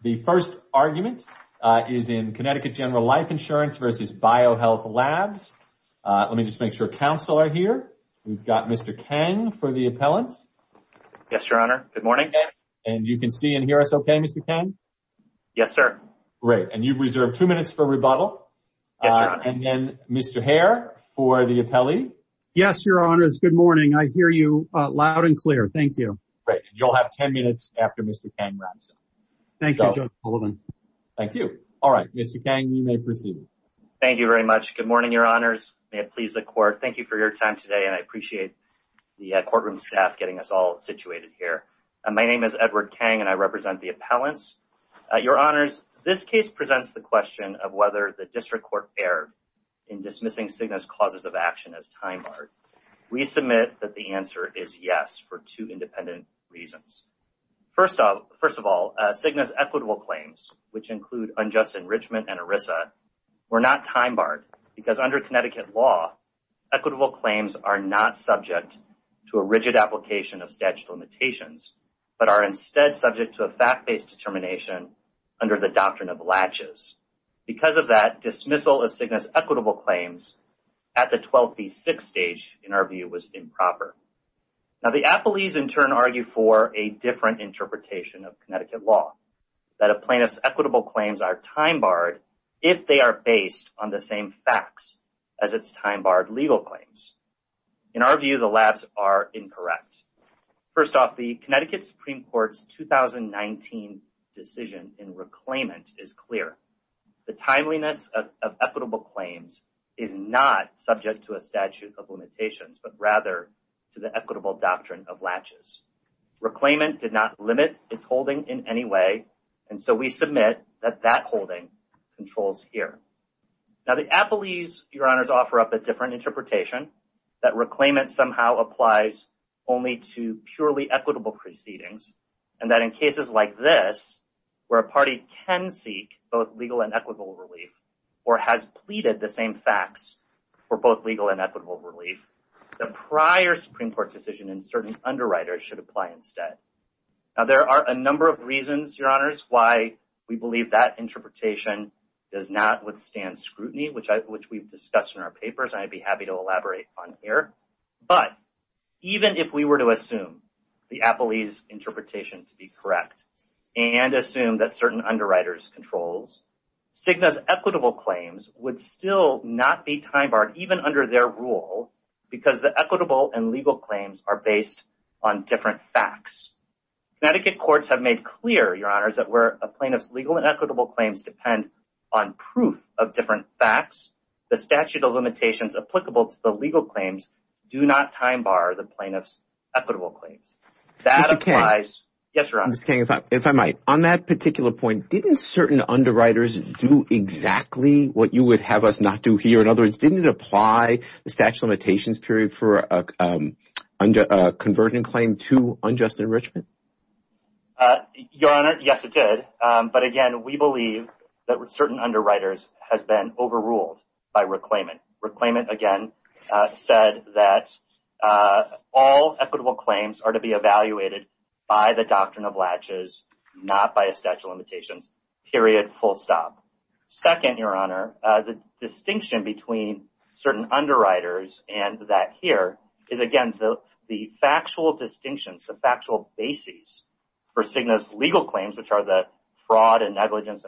The first argument is in Connecticut General Life Insurance v. BioHealth Labs. Let me just make sure counsel are here. We've got Mr. Kang for the appellant. Yes, Your Honor. Good morning. And you can see and hear us okay, Mr. Kang? Yes, sir. Great. And you've reserved two minutes for rebuttal. And then Mr. Hare for the appellee. Yes, Your Honor. It's good morning. I hear you loud and clear. Thank you. Great. You'll have 10 minutes after Mr. Kang wraps up. Thank you, Judge Sullivan. Thank you. All right. Mr. Kang, you may proceed. Thank you very much. Good morning, Your Honors. May it please the court. Thank you for your time today. And I appreciate the courtroom staff getting us all situated here. My name is Edward Kang and I represent the appellants. Your Honors, this case presents the question of whether the district court erred in dismissing Cigna's causes of action as time barred. We submit that the Cigna's equitable claims, which include unjust enrichment and ERISA, were not time barred because under Connecticut law, equitable claims are not subject to a rigid application of statute limitations, but are instead subject to a fact-based determination under the doctrine of latches. Because of that, dismissal of Cigna's equitable claims at the 12th v. 6th stage, in our view, was improper. Now, the appellees in turn argue for a different interpretation of Connecticut law, that a plaintiff's equitable claims are time barred if they are based on the same facts as its time barred legal claims. In our view, the labs are incorrect. First off, the Connecticut Supreme Court's 2019 decision in reclaimant is clear. The timeliness of equitable claims is not subject to a statute of limitations, but rather to the equitable doctrine of latches. Reclaimant did not limit its holding in any way, and so we submit that that holding controls here. Now, the appellees, Your Honors, offer up a different interpretation, that reclaimant somehow applies only to purely equitable proceedings, and that in cases like this, where a party can seek both legal and equitable relief, or has pleaded the same facts for both certain underwriters should apply instead. Now, there are a number of reasons, Your Honors, why we believe that interpretation does not withstand scrutiny, which we've discussed in our papers, and I'd be happy to elaborate on here. But even if we were to assume the appellee's interpretation to be correct, and assume that certain underwriters controls, Cigna's equitable claims would still not be time barred, even under their rule, because the equitable and legal claims are based on different facts. Connecticut courts have made clear, Your Honors, that where a plaintiff's legal and equitable claims depend on proof of different facts, the statute of limitations applicable to the legal claims do not time bar the plaintiff's equitable claims. That applies. Yes, Your Honor. Mr. King, if I might, on that particular point, didn't certain underwriters do exactly what you would have us not do here? In other words, didn't it apply the statute of limitations period for a conversion claim to unjust enrichment? Your Honor, yes, it did. But again, we believe that certain underwriters has been overruled by reclaimant. Reclaimant, again, said that all equitable claims are to be evaluated by the doctrine of latches, not by a statute of limitations, period, full stop. Second, Your Honor, the distinction between certain underwriters and that here is, again, the factual distinctions, the factual bases for Cigna's legal claims, which are the fraud and negligence,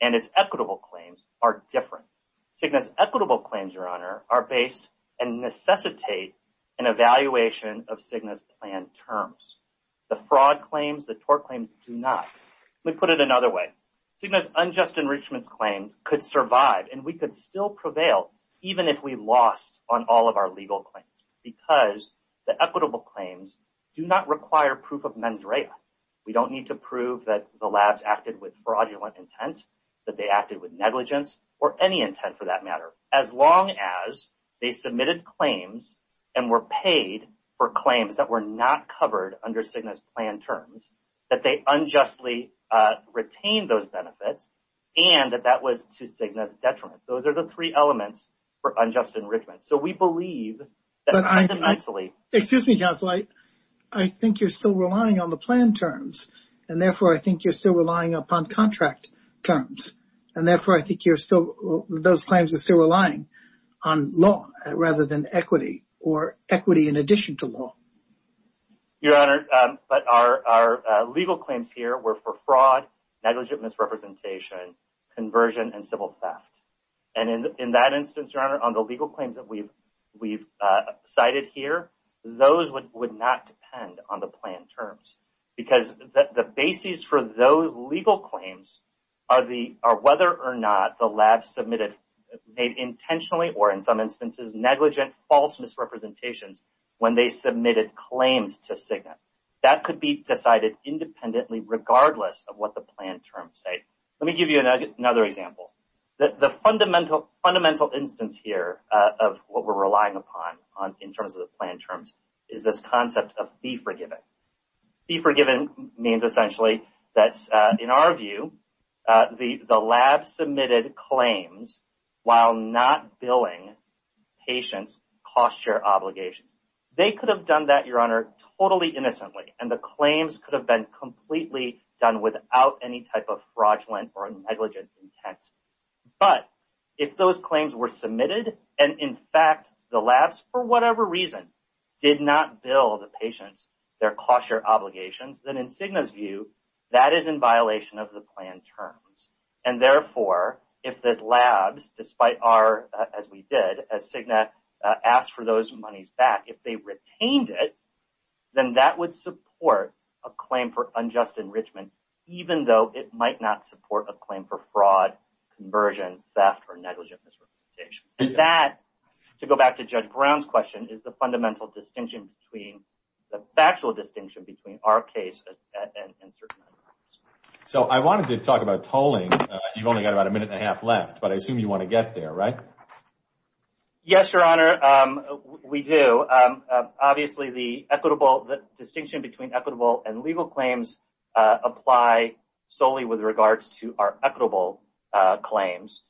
and its equitable claims are different. Cigna's equitable claims, Your Honor, are based and necessitate an evaluation of Cigna's planned terms. The fraud claims, the tort claims do not. Let me put it another way. Cigna's unjust enrichment claims could survive and we could still prevail even if we lost on all of our legal claims because the equitable claims do not require proof of mens rea. We don't need to prove that the labs acted with fraudulent intent, that they acted with negligence, or any intent for that matter, as long as they submitted claims and were paid for claims that were not benefits, and that that was to Cigna's detriment. Those are the three elements for unjust enrichment. So we believe that... Excuse me, Counselor. I think you're still relying on the planned terms, and therefore I think you're still relying upon contract terms, and therefore I think those claims are still relying on law rather than equity or equity in addition to law. Your Honor, but our legal claims here were for fraud, negligent misrepresentation, conversion, and civil theft. And in that instance, Your Honor, on the legal claims that we've cited here, those would not depend on the planned terms because the bases for those legal claims are whether or not the labs submitted, made intentionally or in some instances, negligent false misrepresentations when they submitted claims to Cigna. That could be decided independently regardless of what the planned terms say. Let me give you another example. The fundamental instance here of what we're relying upon in terms of the planned terms is this concept of be forgiven. Be forgiven means essentially that, in our view, the labs submitted claims while not billing patients cost share obligations. They could have done that, Your Honor, totally innocently, and the claims could have been completely done without any type of fraudulent or negligent intent. But if those claims were submitted, and in fact the labs, for whatever reason, did not bill the patients their cost share obligations, then in Cigna's view, that is in violation of the planned terms. And therefore, if the labs, despite our, as we did, as Cigna asked for those monies back, if they retained it, then that would support a claim for unjust enrichment even though it might not support a claim for fraud, conversion, theft, or negligent misrepresentation. And that, to go back to Judge Brown's question, is the fundamental distinction between, the factual distinction between our case and certain others. So, I wanted to talk about tolling. You've only got about a minute and a half left, but I assume you want to get there, right? Yes, Your Honor, we do. Obviously, the equitable, the distinction between equitable and legal claims apply solely with regards to our equitable claims.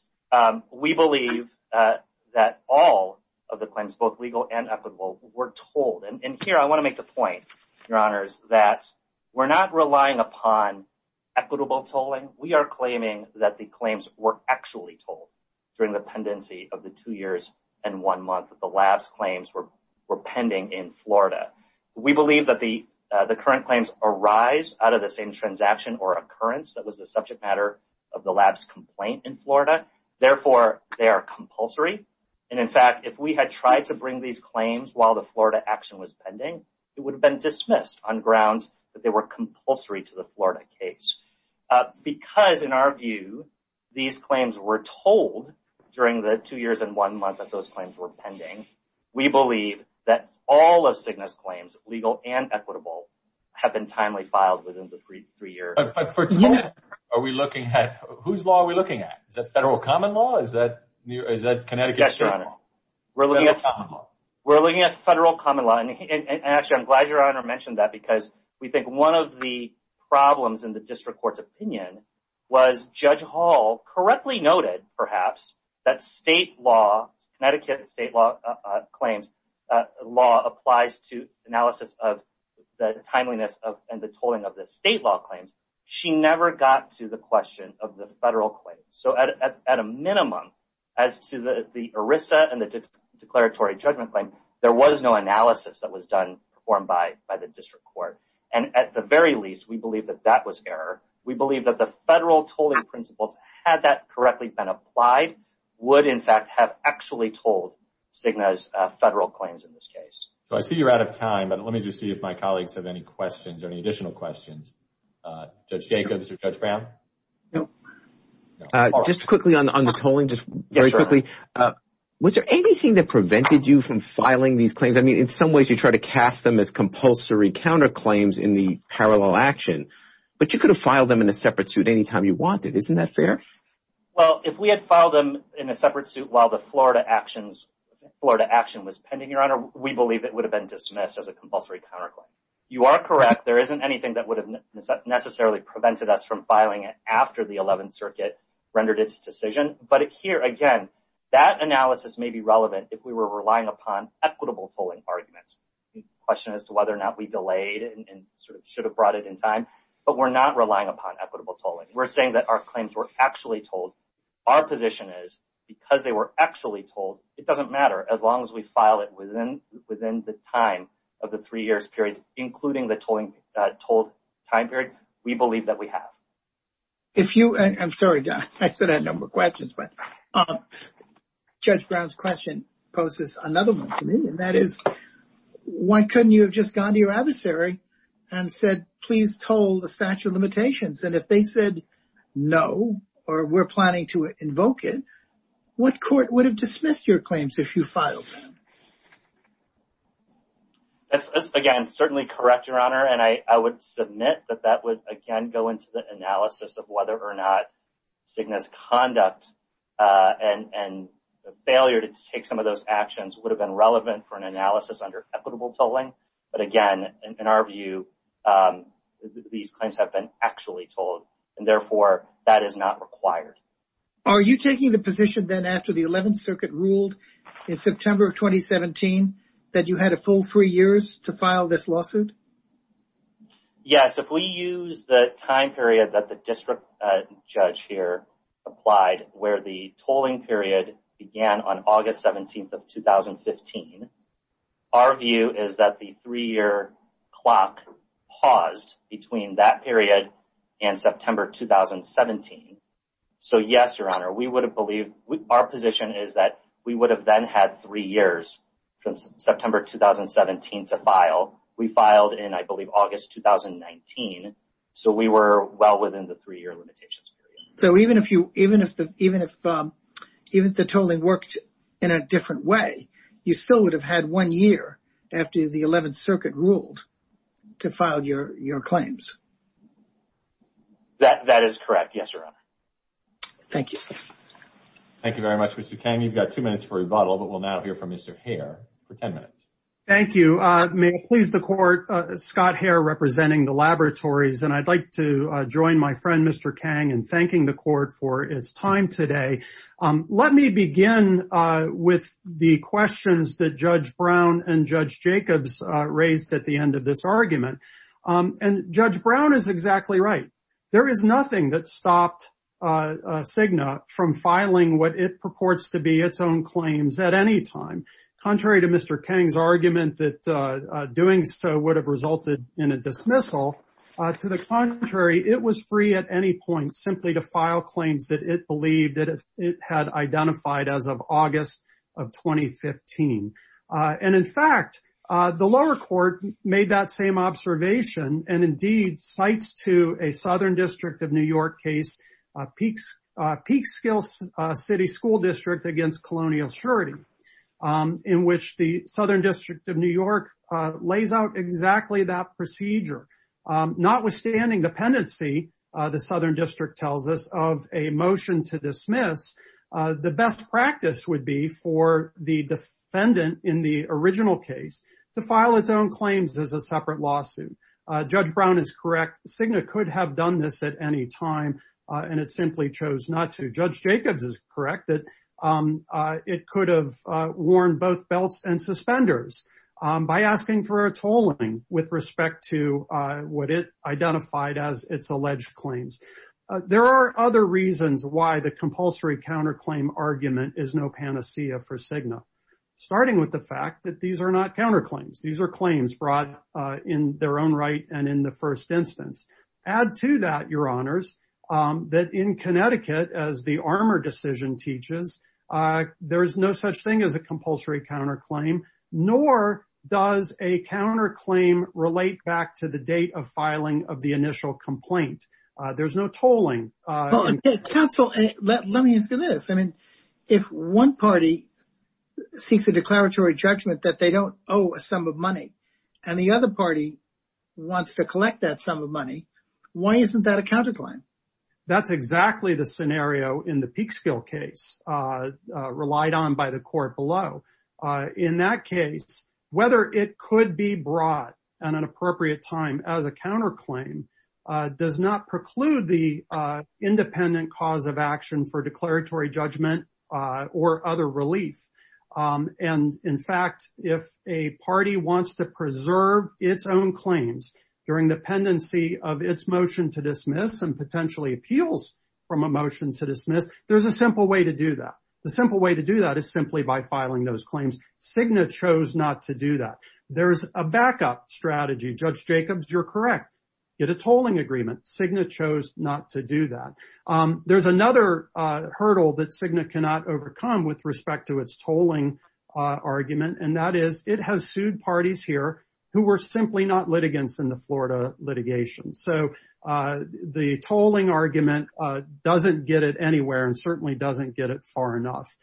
We believe that all of the claims, both legal and equitable, were tolled. And here, I want to make the point, Your Honors, that we're not relying upon equitable tolling. We are claiming that the claims were actually tolled during the pendency of the two years and one month that the lab's claims were pending in Florida. We believe that the current claims arise out of the same transaction or occurrence that was the subject matter of the lab's complaint in Florida. Therefore, they are compulsory. And in fact, if we had tried to bring these claims while the Florida action was pending, it would have been dismissed on grounds that they were compulsory to the Florida case. Because, in our view, these claims were tolled during the two years and one month that those claims were pending, we believe that all of Cigna's claims, legal and equitable, have been timely filed within the three years. But for Cigna, are we looking at, whose law are we looking at? Is that federal common law? Is that, is that Connecticut? Yes, federal common law. And actually, I'm glad Your Honor mentioned that because we think one of the problems in the district court's opinion was Judge Hall correctly noted, perhaps, that state law, Connecticut state law claims, law applies to analysis of the timeliness of and the tolling of the state law claims. She never got to the question of the federal claims. So at a minimum, as to the ERISA and the declaratory judgment claim, there was no analysis that was done performed by the district court. And at the very least, we believe that that was error. We believe that the federal tolling principles, had that correctly been applied, would, in fact, have actually tolled Cigna's federal claims in this case. So I see you're out of time, but let me just see if my colleagues have any questions or any additional questions. Judge Jacobs or Judge on the tolling, just very quickly, was there anything that prevented you from filing these claims? I mean, in some ways you try to cast them as compulsory counterclaims in the parallel action, but you could have filed them in a separate suit anytime you wanted. Isn't that fair? Well, if we had filed them in a separate suit while the Florida actions, Florida action was pending, Your Honor, we believe it would have been dismissed as a compulsory counterclaim. You are correct. There isn't anything that would have necessarily prevented us from filing it after the 11th Circuit rendered its decision. But here, again, that analysis may be relevant if we were relying upon equitable tolling arguments. The question as to whether or not we delayed it and sort of should have brought it in time, but we're not relying upon equitable tolling. We're saying that our claims were actually told. Our position is because they were actually told, it doesn't matter as long as we file it within the time of the three years period, including the tolling time period, we believe that we have. If you, I'm sorry, I said I had a number of questions, but Judge Brown's question poses another one to me, and that is, why couldn't you have just gone to your adversary and said, please toll the statute of limitations? And if they said no, or we're planning to invoke it, what court would have dismissed your claims if you filed them? That's, again, certainly correct, Your Honor, and I would submit that that would, again, go into the analysis of whether or not Cigna's conduct and the failure to take some of those actions would have been relevant for an analysis under equitable tolling. But again, in our view, these claims have been actually told, and therefore, that is not required. Are you taking the position then after the 11th Circuit ruled in September of 2017 that you had a full three years to file this lawsuit? Yes, if we use the time period that the district judge here applied, where the tolling period began on August 17th of 2015, our view is that the three-year clock paused between that period and September 2017. So yes, Your Honor, we would have believed, our position is that we would have then had three years from September 2017 to file. We filed in, I believe, August 2019, so we were well within the three-year limitations period. So even if the tolling worked in a different way, you still would have had one year after the 11th Circuit ruled to file your claims. That is correct, yes, Your Honor. Thank you. Thank you very much, Mr. Kang. You've got two minutes for rebuttal, but we'll now hear from Mr. Hare for 10 minutes. Thank you. May it please the Court, Scott Hare representing the laboratories, and I'd like to join my friend, Mr. Kang, in thanking the Court for his time today. Let me begin with the questions that Judge Brown and Judge Jacobs raised at the end of this argument. And Judge Brown is exactly right. There is nothing that stopped Cigna from filing what it purports to be its own claims at any time. Contrary to Mr. Kang's argument that doing so would have resulted in a dismissal, to the contrary, it was free at any point simply to file claims that it had identified as of August of 2015. And in fact, the lower court made that same observation, and indeed, cites to a Southern District of New York case, Peekskill City School District against Colonial Surety, in which the Southern District of New York lays out exactly that dismissal. The best practice would be for the defendant in the original case to file its own claims as a separate lawsuit. Judge Brown is correct. Cigna could have done this at any time, and it simply chose not to. Judge Jacobs is correct that it could have worn both belts and suspenders by asking for a tolling with respect to what it identified as its alleged claims. There are other reasons why the compulsory counterclaim argument is no panacea for Cigna, starting with the fact that these are not counterclaims. These are claims brought in their own right and in the first instance. Add to that, Your Honors, that in Connecticut, as the Armour decision teaches, there is no such thing as a compulsory counterclaim, nor does a counterclaim relate back to the date of filing of the initial complaint. There's no tolling. Counsel, let me ask you this. I mean, if one party seeks a declaratory judgment that they don't owe a sum of money, and the other party wants to collect that sum of money, why isn't that a counterclaim? That's exactly the scenario in the Peekskill case, relied on by the court below. In that case, whether it could be brought at an appropriate time as a counterclaim does not preclude the independent cause of action for declaratory judgment or other relief. In fact, if a party wants to preserve its own claims during the pendency of its motion to dismiss and potentially appeals from a motion to dismiss, there's a simple way to do that. The simple way to do that is simply by filing those claims. Cigna chose not to do that. There's a backup strategy. Judge Jacobs, you're correct. Get a tolling agreement. Cigna chose not to do that. There's another hurdle that Cigna cannot overcome with respect to its tolling argument, and that is it has sued parties here who were simply not litigants in the Florida litigation. So the tolling argument doesn't get it anywhere and certainly doesn't get it far enough.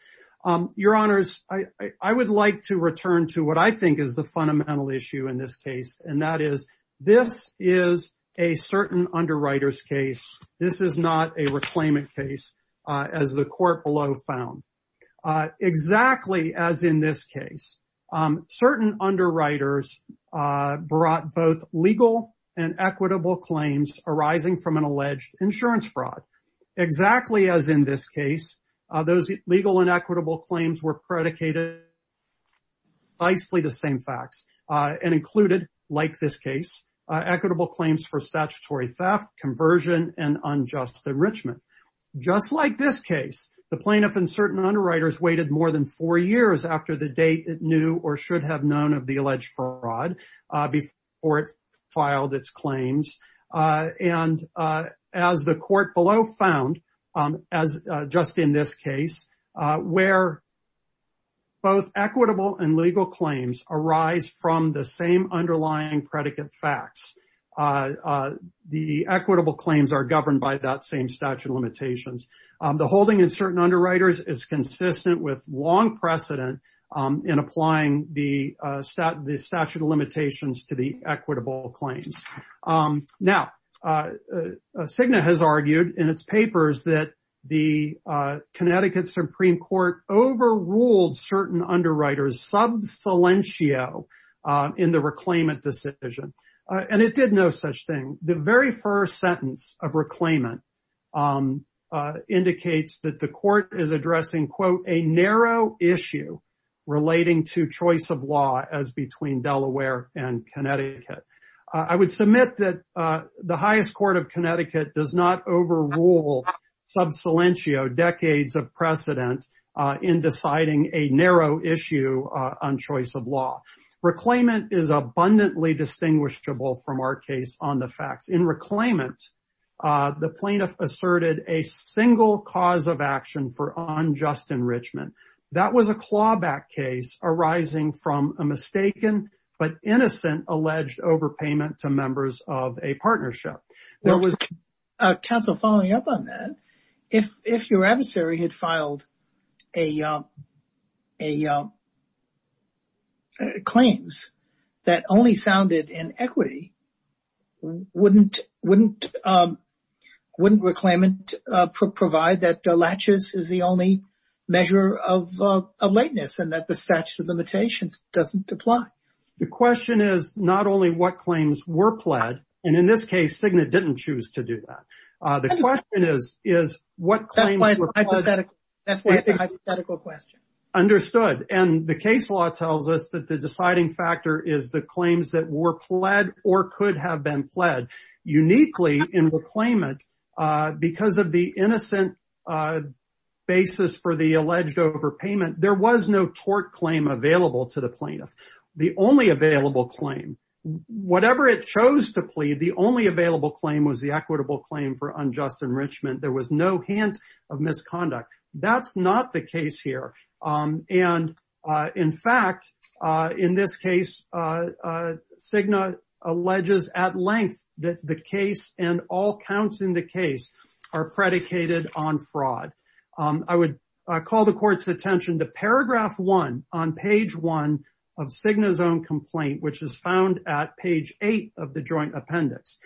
Your Honors, I would like to return to what I think is the fundamental issue in this case, and that is this is a certain underwriter's case. This is not a reclaimant case, as the court below found. Exactly as in this case, certain underwriters brought both legal and equitable claims were predicated on precisely the same facts and included, like this case, equitable claims for statutory theft, conversion, and unjust enrichment. Just like this case, the plaintiff and certain underwriters waited more than four years after the date it knew or should have known of the alleged fraud before it filed its claims. And as the court below found, as just in this case, where both equitable and legal claims arise from the same underlying predicate facts, the equitable claims are governed by that same statute of limitations. The holding in certain underwriters is consistent with long precedent in applying the statute of limitations to the overruled certain underwriters in the reclaimant decision. And it did no such thing. The very first sentence of reclaimant indicates that the court is addressing a narrow issue relating to choice of law as between Delaware and Connecticut. I would submit that the highest court of Connecticut does not overrule sub silentio decades of precedent in deciding a narrow issue on choice of law. Reclaimant is abundantly distinguishable from our case on the facts. In reclaimant, the plaintiff asserted a single cause of action for unjust enrichment. That was a clawback case arising from a mistaken but innocent alleged overpayment to members of a partnership. There was a council following up on that. If your adversary had filed a claims that only sounded in equity, wouldn't reclaimant provide that the latches is the only measure of lateness and that the statute of limitations doesn't apply? The question is not only what claims were pled. And in this case, Signet didn't choose to do that. The question is, is what claim? That's why it's a hypothetical question. Understood. And the case law tells us that the deciding factor is the claims that were pled or could have been pled uniquely in reclaimant because of the innocent basis for the alleged overpayment. There was no tort claim available to the plaintiff. The only available claim, whatever it chose to plead, the only available claim was the equitable claim for unjust enrichment. There was no hint of misconduct. That's not the case here. And in fact, in this case, Signet alleges at length that the case and all counts in the case are predicated on fraud. I would call the court's attention to paragraph one on page one of Signet's own complaint, which is found at page eight of the joint appendix.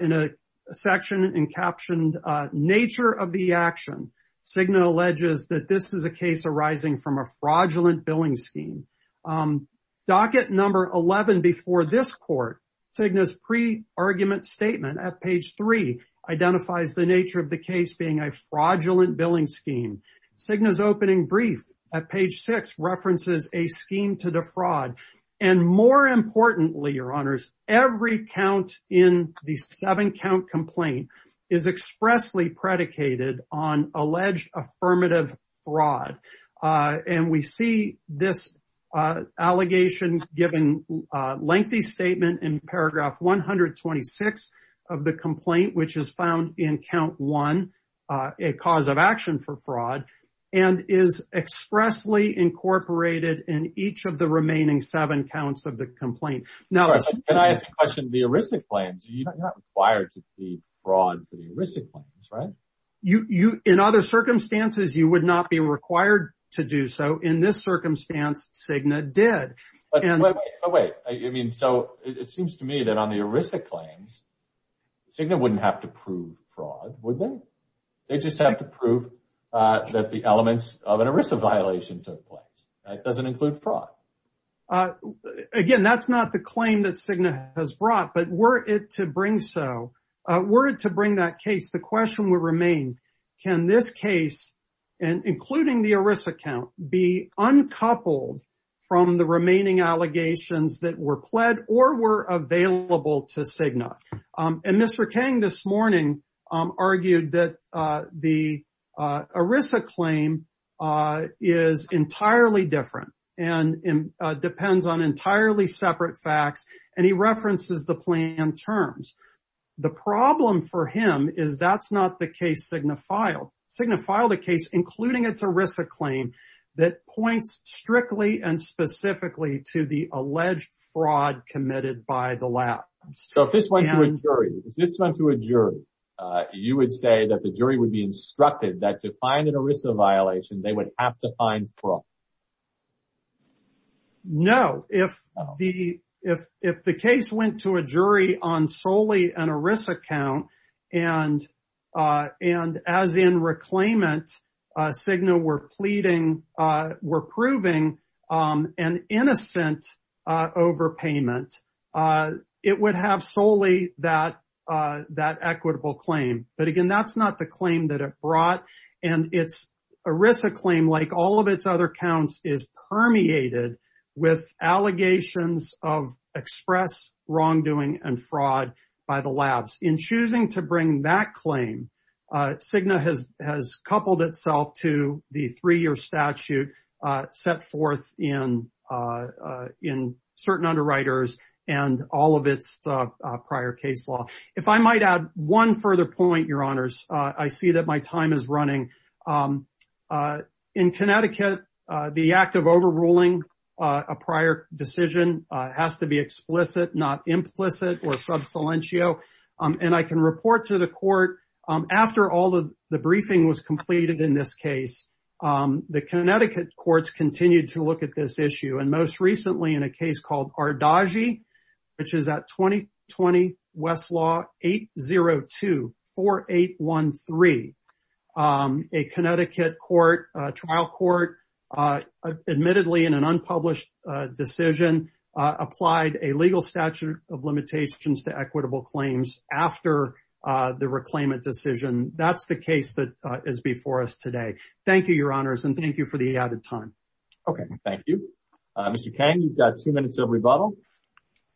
In a section and captioned nature of the action, Signet alleges that this is a case arising from a fraudulent billing scheme. Docket number 11 before this court, Signet's pre-argument statement at page three identifies the nature of the case being a fraudulent billing scheme. Signet's opening brief at page six references a scheme to defraud. And more importantly, your honors, every count in the seven count complaint is expressly predicated on alleged affirmative fraud. And we see this allegation given a lengthy statement in paragraph 126 of the complaint, which is found in count one, a cause of action for fraud, and is expressly incorporated in each of the remaining seven counts of the complaint. Now, can I ask a question? The heuristic claims, you're not required to be fraud to the heuristic claims, right? You, in other circumstances, you would not be required to do so. In this circumstance, Signet did. But wait, I mean, so it seems to me that on the heuristic claims, Signet wouldn't have to prove fraud, would they? They just have to prove that the elements of an heuristic violation took place. That doesn't include fraud. Again, that's not the claim that Signet has brought, but were it to bring so, were it to bring that case, the question would remain, can this case, including the heuristic account, be uncoupled from the remaining allegations that were pled or were available to Signet? And Mr. Kang this morning argued that the ERISA claim is entirely different and depends on entirely separate facts. And he references the plan terms. The problem for him is that's not the Signet file. Signet filed a case, including its ERISA claim, that points strictly and specifically to the alleged fraud committed by the latter. So if this went to a jury, you would say that the jury would be instructed that to find an ERISA violation, they would have to find fraud? No. If the case went to a jury on solely an ERISA account, and as in reclaimant, Signet were proving an innocent overpayment, it would have solely that equitable claim. But again, that's not the claim that it brought. And its ERISA claim, like all of its other accounts, is permeated with allegations of express wrongdoing and fraud by the labs. In choosing to bring that claim, Signet has coupled itself to the three-year statute set forth in certain underwriters and all of its prior case law. If I might add one further point, Your Honors, I see that my time is running. In Connecticut, the act of overruling a prior decision has to be explicit, not implicit or sub silentio. And I can report to the court, after all of the briefing was completed in this case, the Connecticut courts continued to look at this issue. And most recently in a case called Ardagi, which is at 2020 Westlaw 8024813, a Connecticut trial court, admittedly in an unpublished decision, applied a legal statute of limitations to equitable claims after the reclaimant decision. That's the case that is before us today. Thank you, Your Honors, and thank you for the added time. Okay, thank you. Mr. Kang, you've got two minutes of rebuttal.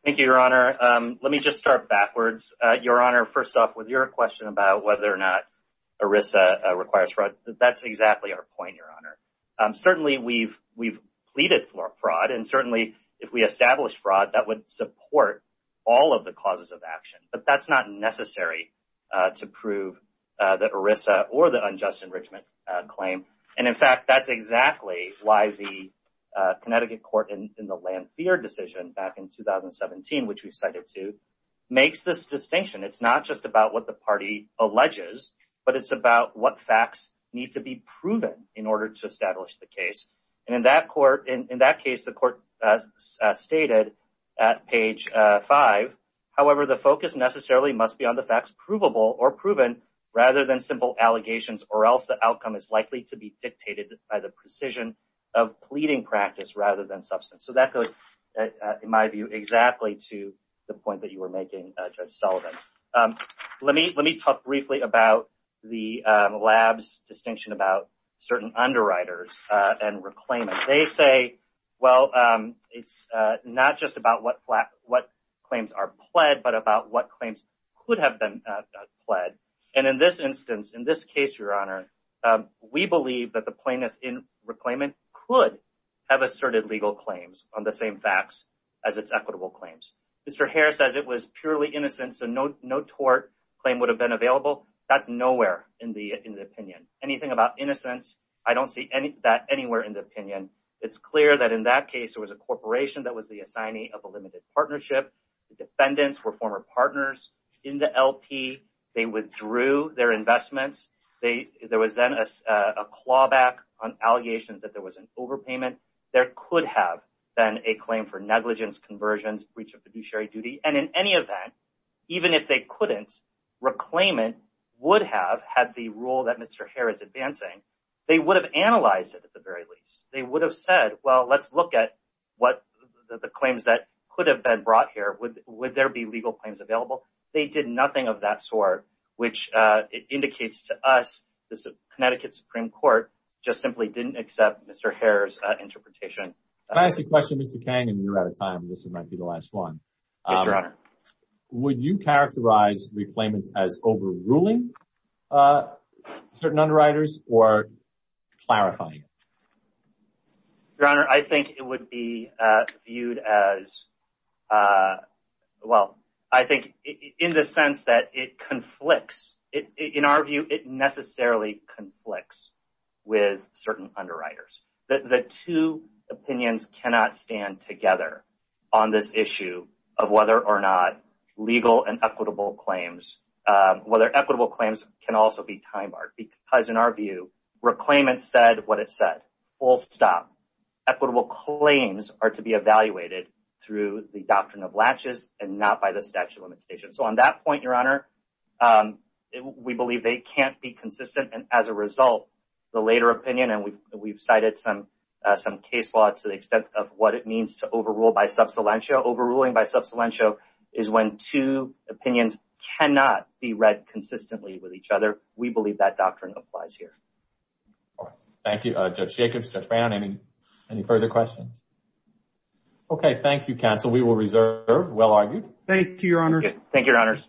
Thank you, Your Honor. Let me just start backwards. Your Honor, first off, with your question about whether or not ERISA requires fraud, that's exactly our point, Your Honor. Certainly, we've pleaded for fraud. And certainly, if we establish fraud, that would support all of the causes of action. But that's not necessary to prove that ERISA or the unjust enrichment claim. And in fact, that's exactly why the Connecticut court in the Lanthier decision back in 2017, which we cited to, makes this distinction. It's not just about what the party alleges, but it's about what facts need to be proven in order to establish the case. And in that court, in that case, the court stated at page five, however, the focus necessarily must be on the facts provable or proven rather than simple allegations or else the outcome is likely to be dictated by the precision of pleading practice rather than substance. So that goes, in my view, exactly to the point that you were making, Judge Sullivan. Let me talk briefly about the lab's distinction about certain underwriters and reclaiming. They say, well, it's not just what claims are pled, but about what claims could have been pled. And in this instance, in this case, Your Honor, we believe that the plaintiff in reclaiming could have asserted legal claims on the same facts as its equitable claims. Mr. Harris says it was purely innocent, so no tort claim would have been available. That's nowhere in the opinion. Anything about innocence, I don't see that anywhere in the opinion. It's clear that in that case, there was a corporation that was the assignee of a limited partnership. The defendants were former partners in the LP. They withdrew their investments. There was then a clawback on allegations that there was an overpayment. There could have been a claim for negligence, conversions, breach of fiduciary duty. And in any event, even if they couldn't, reclaiming would have had the rule that Mr. Harris is advancing. They would have analyzed it at the very least. They would have said, well, let's look at what the claims that could have been brought here. Would there be legal claims available? They did nothing of that sort, which it indicates to us this Connecticut Supreme Court just simply didn't accept Mr. Harris' interpretation. Can I ask you a question, Mr. Kang? And you're out of time. This might be the last one. Yes, Your Honor. Would you characterize reclaimment as overruling certain underwriters or clarifying? Your Honor, I think it would be viewed as, well, I think in the sense that it conflicts. In our view, it necessarily conflicts with certain underwriters. The two opinions cannot stand together on this issue of whether or not legal and equitable claims, whether equitable claims can also be time-barred. Because in our view, reclaimment said what it said, full stop. Equitable claims are to be evaluated through the doctrine of latches and not by the statute of limitations. So on that point, Your Honor, we believe they can't be consistent. And as a result, the later opinion, and we've cited some case law to the extent of what it means to overrule by is when two opinions cannot be read consistently with each other. We believe that doctrine applies here. All right. Thank you, Judge Jacobs, Judge Brown. Any further questions? Okay. Thank you, counsel. We will reserve well argued. Thank you, Your Honors.